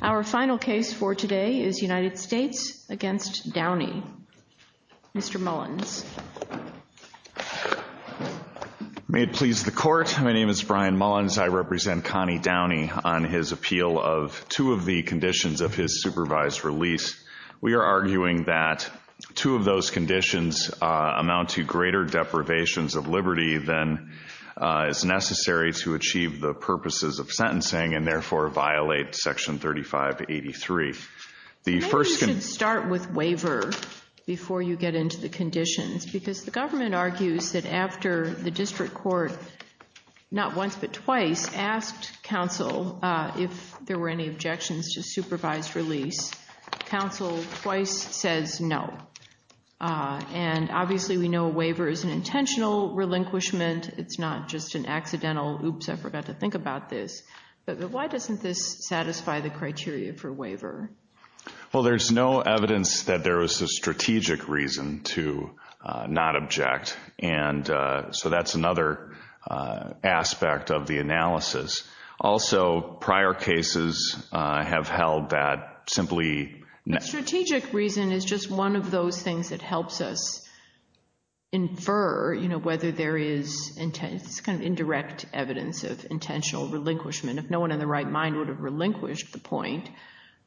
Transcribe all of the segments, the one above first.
Our final case for today is United States v. Downey. Mr. Mullins. May it please the Court, my name is Brian Mullins. I represent Connie Downey on his appeal of two of the conditions of his supervised release. We are arguing that two of those conditions amount to greater deprivations of liberty than is necessary to achieve the purposes of sentencing and therefore violate Section 3583. Maybe we should start with waiver before you get into the conditions because the government argues that after the district court, not once but twice, asked counsel if there were any objections to supervised release, counsel twice says no. And obviously we know a waiver is an intentional relinquishment. It's not just an accidental, oops, I forgot to think about this. But why doesn't this satisfy the criteria for waiver? Well, there's no evidence that there is a strategic reason to not object. And so that's another aspect of the analysis. Also, prior cases have held that simply... It's one of those things that helps us infer whether there is kind of indirect evidence of intentional relinquishment. If no one in their right mind would have relinquished the point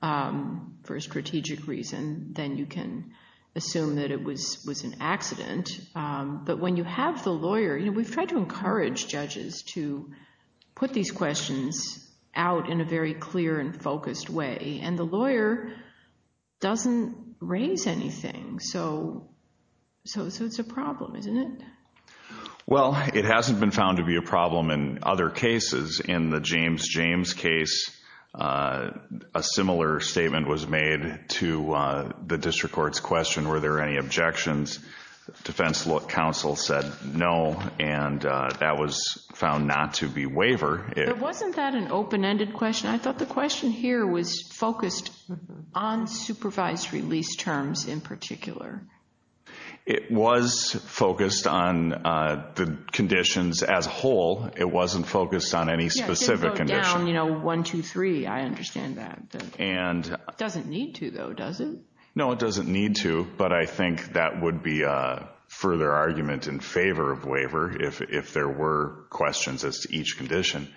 for a strategic reason, then you can assume that it was an accident. But when you have the lawyer, we've tried to encourage judges to put these questions out in a very clear and focused way. And the lawyer doesn't raise anything. So it's a problem, isn't it? Well, it hasn't been found to be a problem in other cases. In the James James case, a similar statement was made to the district court's question, were there any objections? Defense counsel said no, and that was found not to be waiver. But wasn't that an open-ended question? I thought the question here was focused on supervised release terms in particular. It was focused on the conditions as a whole. It wasn't focused on any specific condition. It didn't go down, you know, one, two, three. I understand that. It doesn't need to, though, does it? No, it doesn't need to. But I think that would be a further argument in favor of waiver if there were questions as to each condition,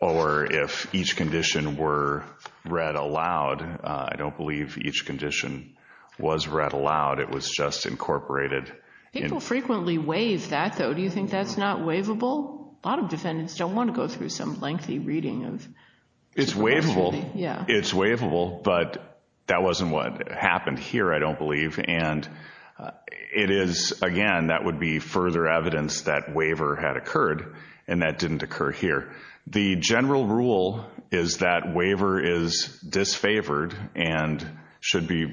or if each condition were read aloud. I don't believe each condition was read aloud. It was just incorporated. People frequently waive that, though. Do you think that's not waivable? A lot of defendants don't want to go through some lengthy reading. It's waivable. It's waivable, but that wasn't what happened here, I don't believe. And it is, again, that would be further evidence that waiver had occurred, and that didn't occur here. The general rule is that waiver is disfavored and should be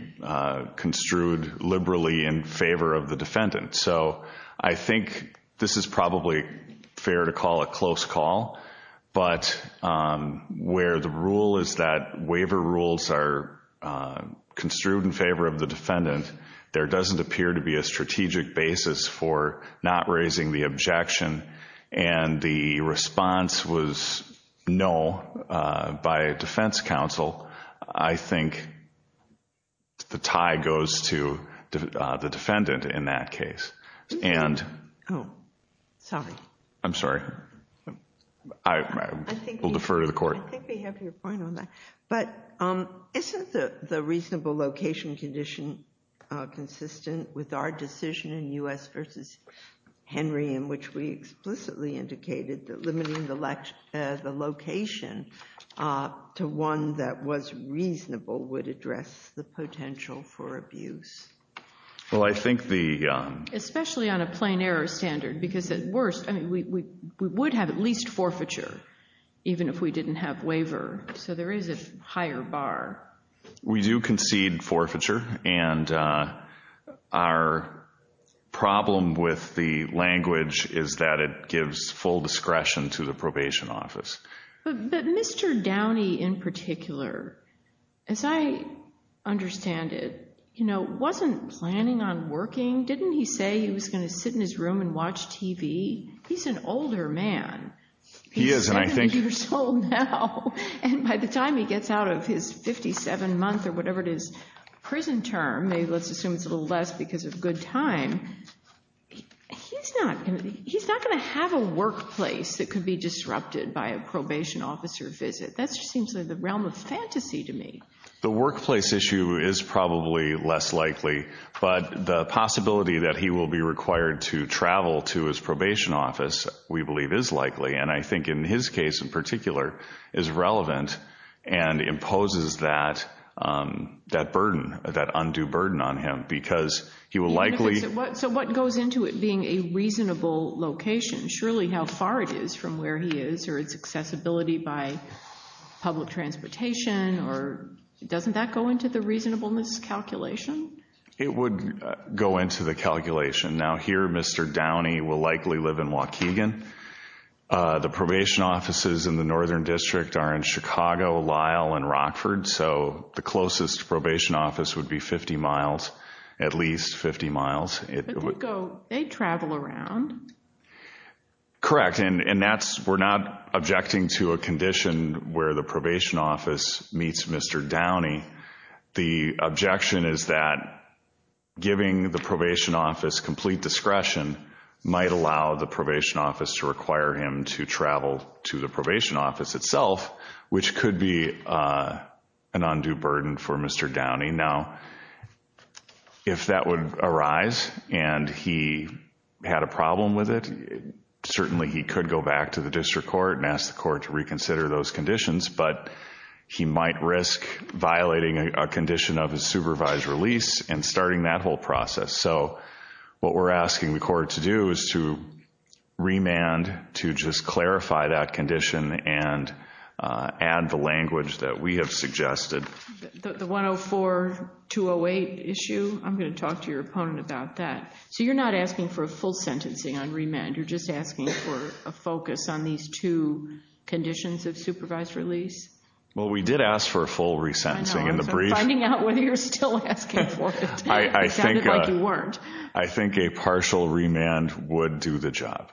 construed liberally in favor of the defendant. So I think this is probably fair to call a close call. But where the rule is that waiver rules are construed in favor of the defendant, there doesn't appear to be a strategic basis for not raising the objection. And the response was no by a defense counsel. I think the tie goes to the defendant in that case. Oh, sorry. I'm sorry. I will defer to the court. I think we have your point on that. But isn't the reasonable location condition consistent with our decision in U.S. v. Henry in which we explicitly indicated that limiting the location to one that was reasonable would address the potential for abuse? Well, I think the... Especially on a plain error standard, because at worst, I mean, we would have at least forfeiture, even if we didn't have waiver. So there is a higher bar. We do concede forfeiture, and our problem with the language is that it gives full discretion to the probation office. But Mr. Downey in particular, as I understand it, you know, wasn't planning on working. Didn't he say he was going to sit in his room and watch TV? He's an older man. He is, and I think... He's not going to have a workplace that could be disrupted by a probation officer visit. That seems like the realm of fantasy to me. The workplace issue is probably less likely, but the possibility that he will be required to travel to his probation office we believe is likely, and I think in his case in particular is relevant and imposes that burden, that undue burden on him, because he will likely... Doesn't that go into the reasonableness calculation? It would go into the calculation. Now here, Mr. Downey will likely live in Waukegan. The probation offices in the Northern District are in Chicago, Lyle, and Rockford, so the closest probation office would be 50 miles, at least 50 miles. But they travel around. Correct, and that's... We're not objecting to a condition where the probation office meets Mr. Downey. The objection is that giving the probation office complete discretion might allow the probation office to require him to travel to the probation office itself, which could be an undue burden for Mr. Downey. Now, if that would arise and he had a problem with it, certainly he could go back to the district court and ask the court to reconsider those conditions, but he might risk violating a condition of his supervised release and starting that whole process. So what we're asking the court to do is to remand to just clarify that condition and add the language that we have suggested. The 104-208 issue? I'm going to talk to your opponent about that. So you're not asking for a full sentencing on remand. You're just asking for a focus on these two conditions of supervised release? Well, we did ask for a full resentencing in the brief. I know. I was finding out whether you're still asking for it. It sounded like you weren't. I think a partial remand would do the job.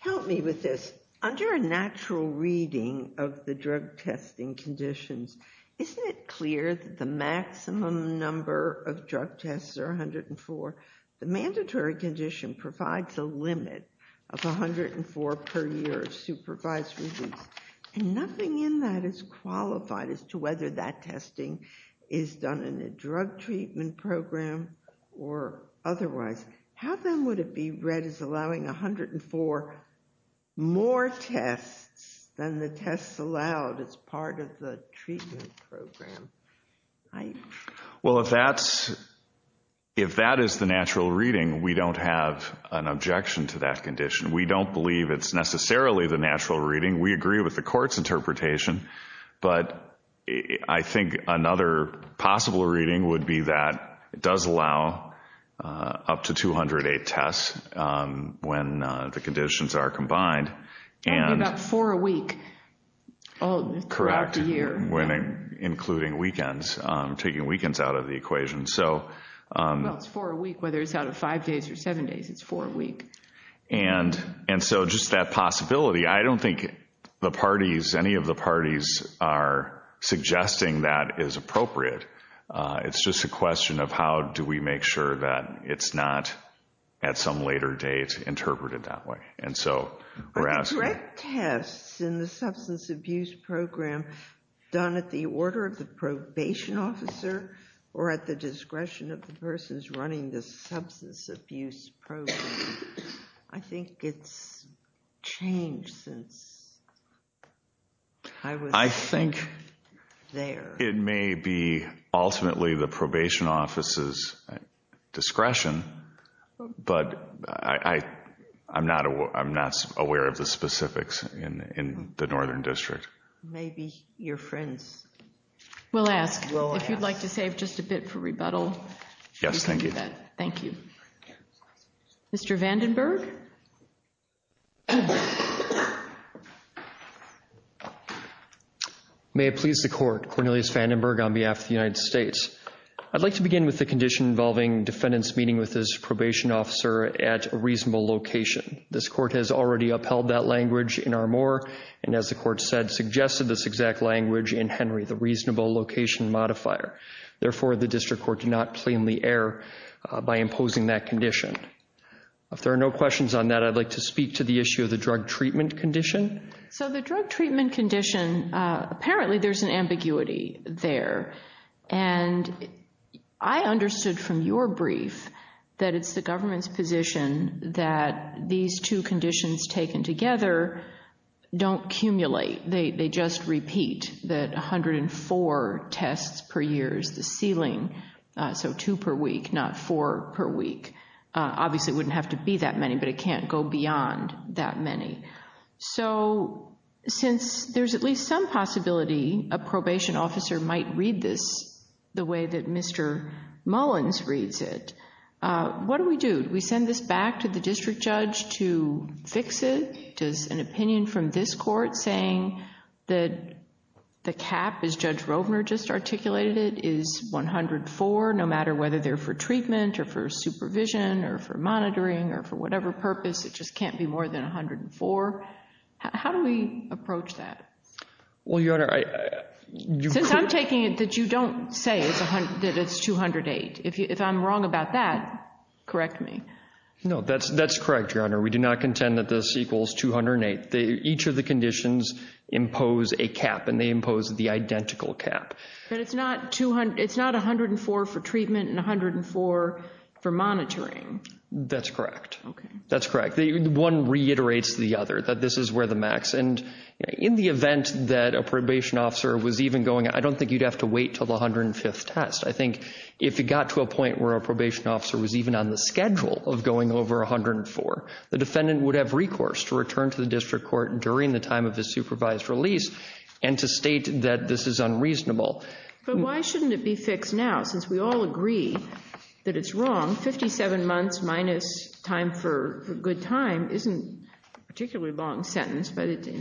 Help me with this. Under a natural reading of the drug testing conditions, isn't it clear that the maximum number of drug tests are 104? The mandatory condition provides a limit of 104 per year of supervised release, and nothing in that is qualified as to whether that testing is done in a drug treatment program or otherwise. How then would it be read as allowing 104 more tests than the tests allowed as part of the treatment program? Well, if that is the natural reading, we don't have an objection to that condition. We don't believe it's necessarily the natural reading. We agree with the court's interpretation, but I think another possible reading would be that it does allow up to 208 tests when the conditions are combined. About four a week throughout the year. Correct, including weekends, taking weekends out of the equation. Well, it's four a week, whether it's out of five days or seven days, it's four a week. And so just that possibility, I don't think any of the parties are suggesting that is appropriate. It's just a question of how do we make sure that it's not at some later date interpreted that way. Are the drug tests in the substance abuse program done at the order of the probation officer or at the discretion of the persons running the substance abuse program? I think it's changed since I was there. It may be ultimately the probation office's discretion, but I'm not aware of the specifics in the Northern District. Maybe your friends will ask. If you'd like to save just a bit for rebuttal. Yes, thank you. Thank you. Mr. Vandenberg. May it please the court. Cornelius Vandenberg on behalf of the United States. I'd like to begin with the condition involving defendants meeting with this probation officer at a reasonable location. This court has already upheld that language in our more. And as the court said, suggested this exact language in Henry, the reasonable location modifier. Therefore, the district court did not plainly err by imposing that condition. If there are no questions on that, I'd like to speak to the issue of the drug treatment condition. So the drug treatment condition, apparently there's an ambiguity there. And I understood from your brief that it's the government's position that these two conditions taken together don't accumulate. They just repeat that 104 tests per year is the ceiling. So two per week, not four per week. Obviously, it wouldn't have to be that many, but it can't go beyond that many. So since there's at least some possibility a probation officer might read this the way that Mr. Mullins reads it, what do we do? Do we send this back to the district judge to fix it? Does an opinion from this court saying that the cap, as Judge Rovner just articulated it, is 104, no matter whether they're for treatment or for supervision or for monitoring or for whatever purpose. It just can't be more than 104. How do we approach that? Well, Your Honor, I- Since I'm taking it that you don't say that it's 208. If I'm wrong about that, correct me. No, that's correct, Your Honor. We do not contend that this equals 208. Each of the conditions impose a cap, and they impose the identical cap. But it's not 104 for treatment and 104 for monitoring. That's correct. That's correct. One reiterates the other, that this is where the max. And in the event that a probation officer was even going, I don't think you'd have to wait until the 105th test. I think if it got to a point where a probation officer was even on the schedule of going over 104, the defendant would have recourse to return to the district court during the time of his supervised release and to state that this is unreasonable. But why shouldn't it be fixed now, since we all agree that it's wrong? Fifty-seven months minus time for good time isn't a particularly long sentence.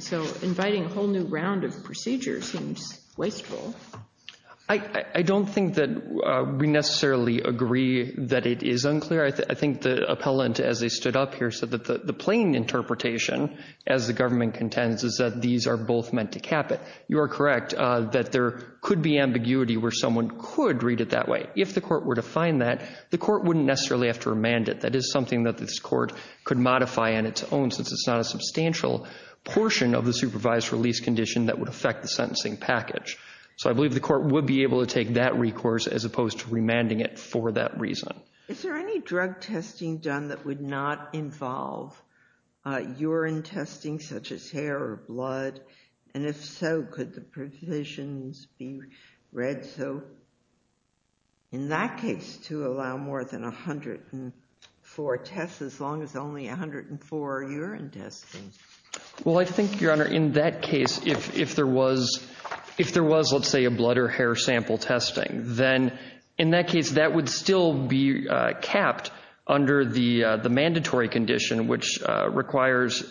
So inviting a whole new round of procedures seems wasteful. I don't think that we necessarily agree that it is unclear. I think the appellant, as they stood up here, said that the plain interpretation, as the government contends, is that these are both meant to cap it. You are correct that there could be ambiguity where someone could read it that way. If the court were to find that, the court wouldn't necessarily have to remand it. That is something that this court could modify on its own, since it's not a substantial portion of the supervised release condition that would affect the sentencing package. So I believe the court would be able to take that recourse as opposed to remanding it for that reason. Is there any drug testing done that would not involve urine testing, such as hair or blood? And if so, could the provisions be read so, in that case, to allow more than 104 tests, as long as only 104 are urine testing? Well, I think, Your Honor, in that case, if there was, let's say, a blood or hair sample testing, then in that case that would still be capped under the mandatory condition, which limits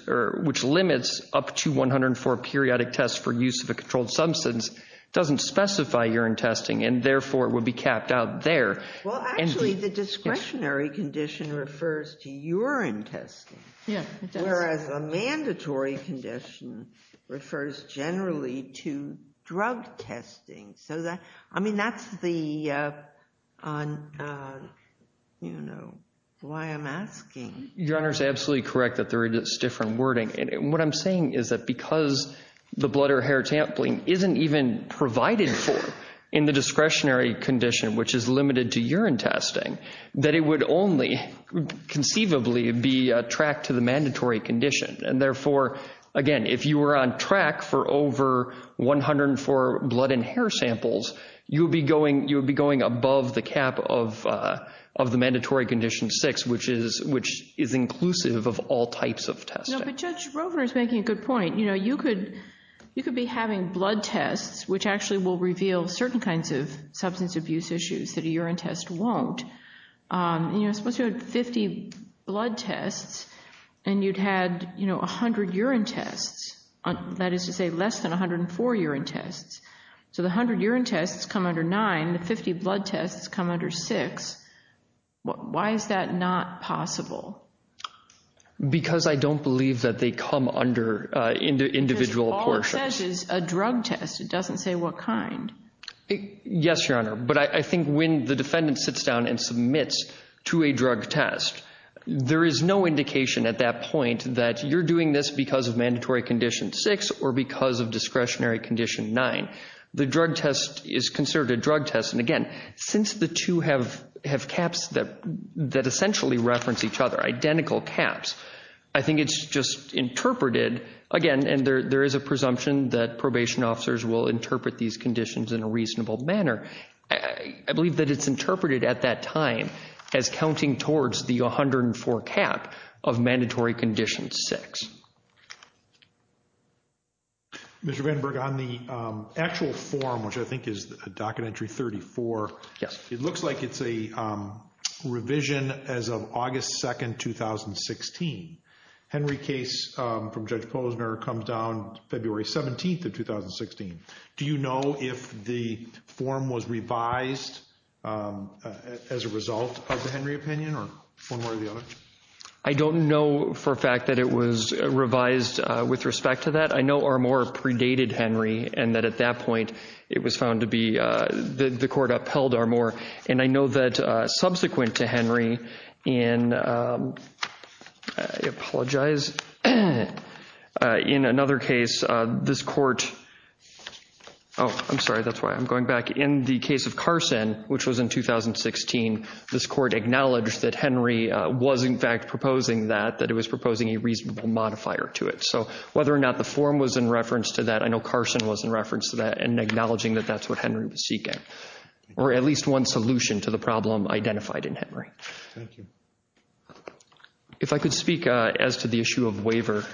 up to 104 periodic tests for use of a controlled substance. It doesn't specify urine testing, and therefore it would be capped out there. Well, actually, the discretionary condition refers to urine testing. Yeah, it does. Whereas a mandatory condition refers generally to drug testing. So, I mean, that's the, you know, why I'm asking. Your Honor is absolutely correct that there is different wording. What I'm saying is that because the blood or hair sampling isn't even provided for in the discretionary condition, which is limited to urine testing, that it would only conceivably be tracked to the mandatory condition. And therefore, again, if you were on track for over 104 blood and hair samples, you would be going above the cap of the mandatory condition 6, which is inclusive of all types of testing. No, but Judge Rovner is making a good point. You know, you could be having blood tests, which actually will reveal certain kinds of substance abuse issues that a urine test won't. You know, suppose you had 50 blood tests and you'd had, you know, 100 urine tests, that is to say less than 104 urine tests. So the 100 urine tests come under 9, the 50 blood tests come under 6. Why is that not possible? Because I don't believe that they come under individual portions. Because all it says is a drug test. It doesn't say what kind. Yes, Your Honor. But I think when the defendant sits down and submits to a drug test, there is no indication at that point that you're doing this because of mandatory condition 6 or because of discretionary condition 9. The drug test is considered a drug test. And again, since the two have caps that essentially reference each other, identical caps, I think it's just interpreted, again, and there is a presumption that probation officers will interpret these conditions in a reasonable manner. I believe that it's interpreted at that time as counting towards the 104 cap of mandatory condition 6. Mr. Vandenberg, on the actual form, which I think is a docket entry 34, it looks like it's a revision as of August 2nd, 2016. Henry case from Judge Posner comes down February 17th of 2016. Do you know if the form was revised as a result of the Henry opinion or one way or the other? I don't know for a fact that it was revised with respect to that. I know Armour predated Henry and that at that point it was found to be the court upheld Armour. And I know that subsequent to Henry in, I apologize, in another case, this court, oh, I'm sorry, that's why I'm going back, in the case of Carson, which was in 2016, this court acknowledged that Henry was in fact proposing that, that it was proposing a reasonable modifier to it. So whether or not the form was in reference to that, I know Carson was in reference to that and acknowledging that that's what Henry was seeking, or at least one solution to the problem identified in Henry. Thank you. If I could speak as to the issue of waiver,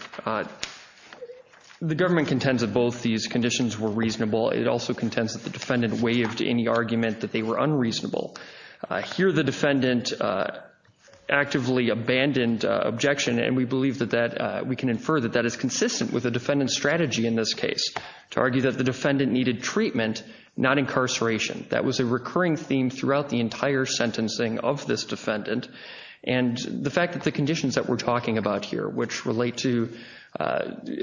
the government contends that both these conditions were reasonable. It also contends that the defendant waived any argument that they were unreasonable. Here the defendant actively abandoned objection, and we believe that that, we can infer that that is consistent with the defendant's strategy in this case, to argue that the defendant needed treatment, not incarceration. That was a recurring theme throughout the entire sentencing of this defendant, and the fact that the conditions that we're talking about here, which relate to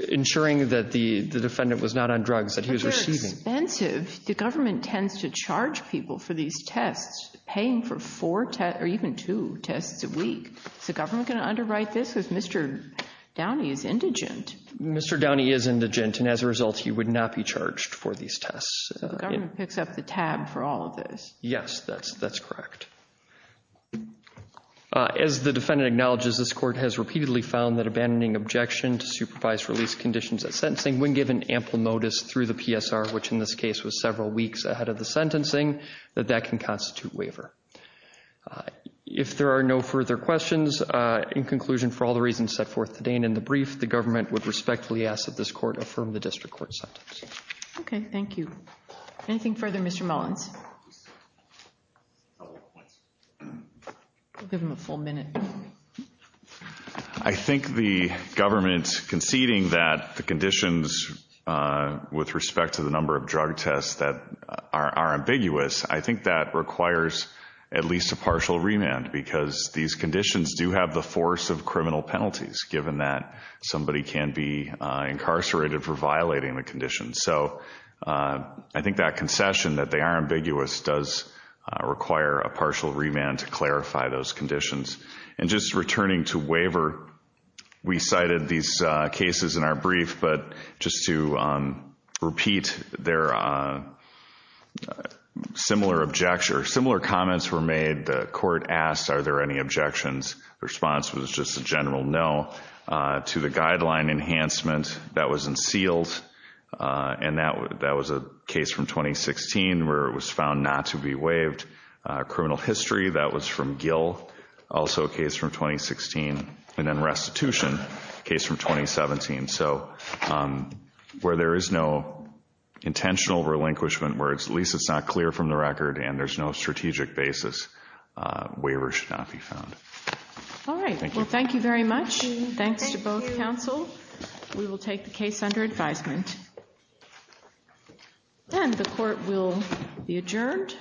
ensuring that the defendant was not on drugs that he was receiving. It's expensive. The government tends to charge people for these tests, paying for four tests, or even two tests a week. Is the government going to underwrite this? Because Mr. Downey is indigent. Mr. Downey is indigent, and as a result, he would not be charged for these tests. So the government picks up the tab for all of this. Yes, that's correct. As the defendant acknowledges, this court has repeatedly found that abandoning objection to supervised release conditions at sentencing, when given ample notice through the PSR, which in this case was several weeks ahead of the sentencing, that that can constitute waiver. If there are no further questions, in conclusion, for all the reasons set forth today and in the brief, the government would respectfully ask that this court affirm the district court sentence. Okay, thank you. Anything further, Mr. Mullins? We'll give him a full minute. I think the government conceding that the conditions with respect to the number of drug tests that are ambiguous, I think that requires at least a partial remand, because these conditions do have the force of criminal penalties, given that somebody can be incarcerated for violating the conditions. So I think that concession that they are ambiguous does require a partial remand to clarify those conditions. And just returning to waiver, we cited these cases in our brief. But just to repeat, there are similar comments were made. The court asked, are there any objections? The response was just a general no. To the guideline enhancement, that was in seals, and that was a case from 2016 where it was found not to be waived. Criminal history, that was from Gill, also a case from 2016. And then restitution, a case from 2017. So where there is no intentional relinquishment, where at least it's not clear from the record and there's no strategic basis, waivers should not be found. All right. Well, thank you very much. Thanks to both counsel. We will take the case under advisement. And the court will be adjourned.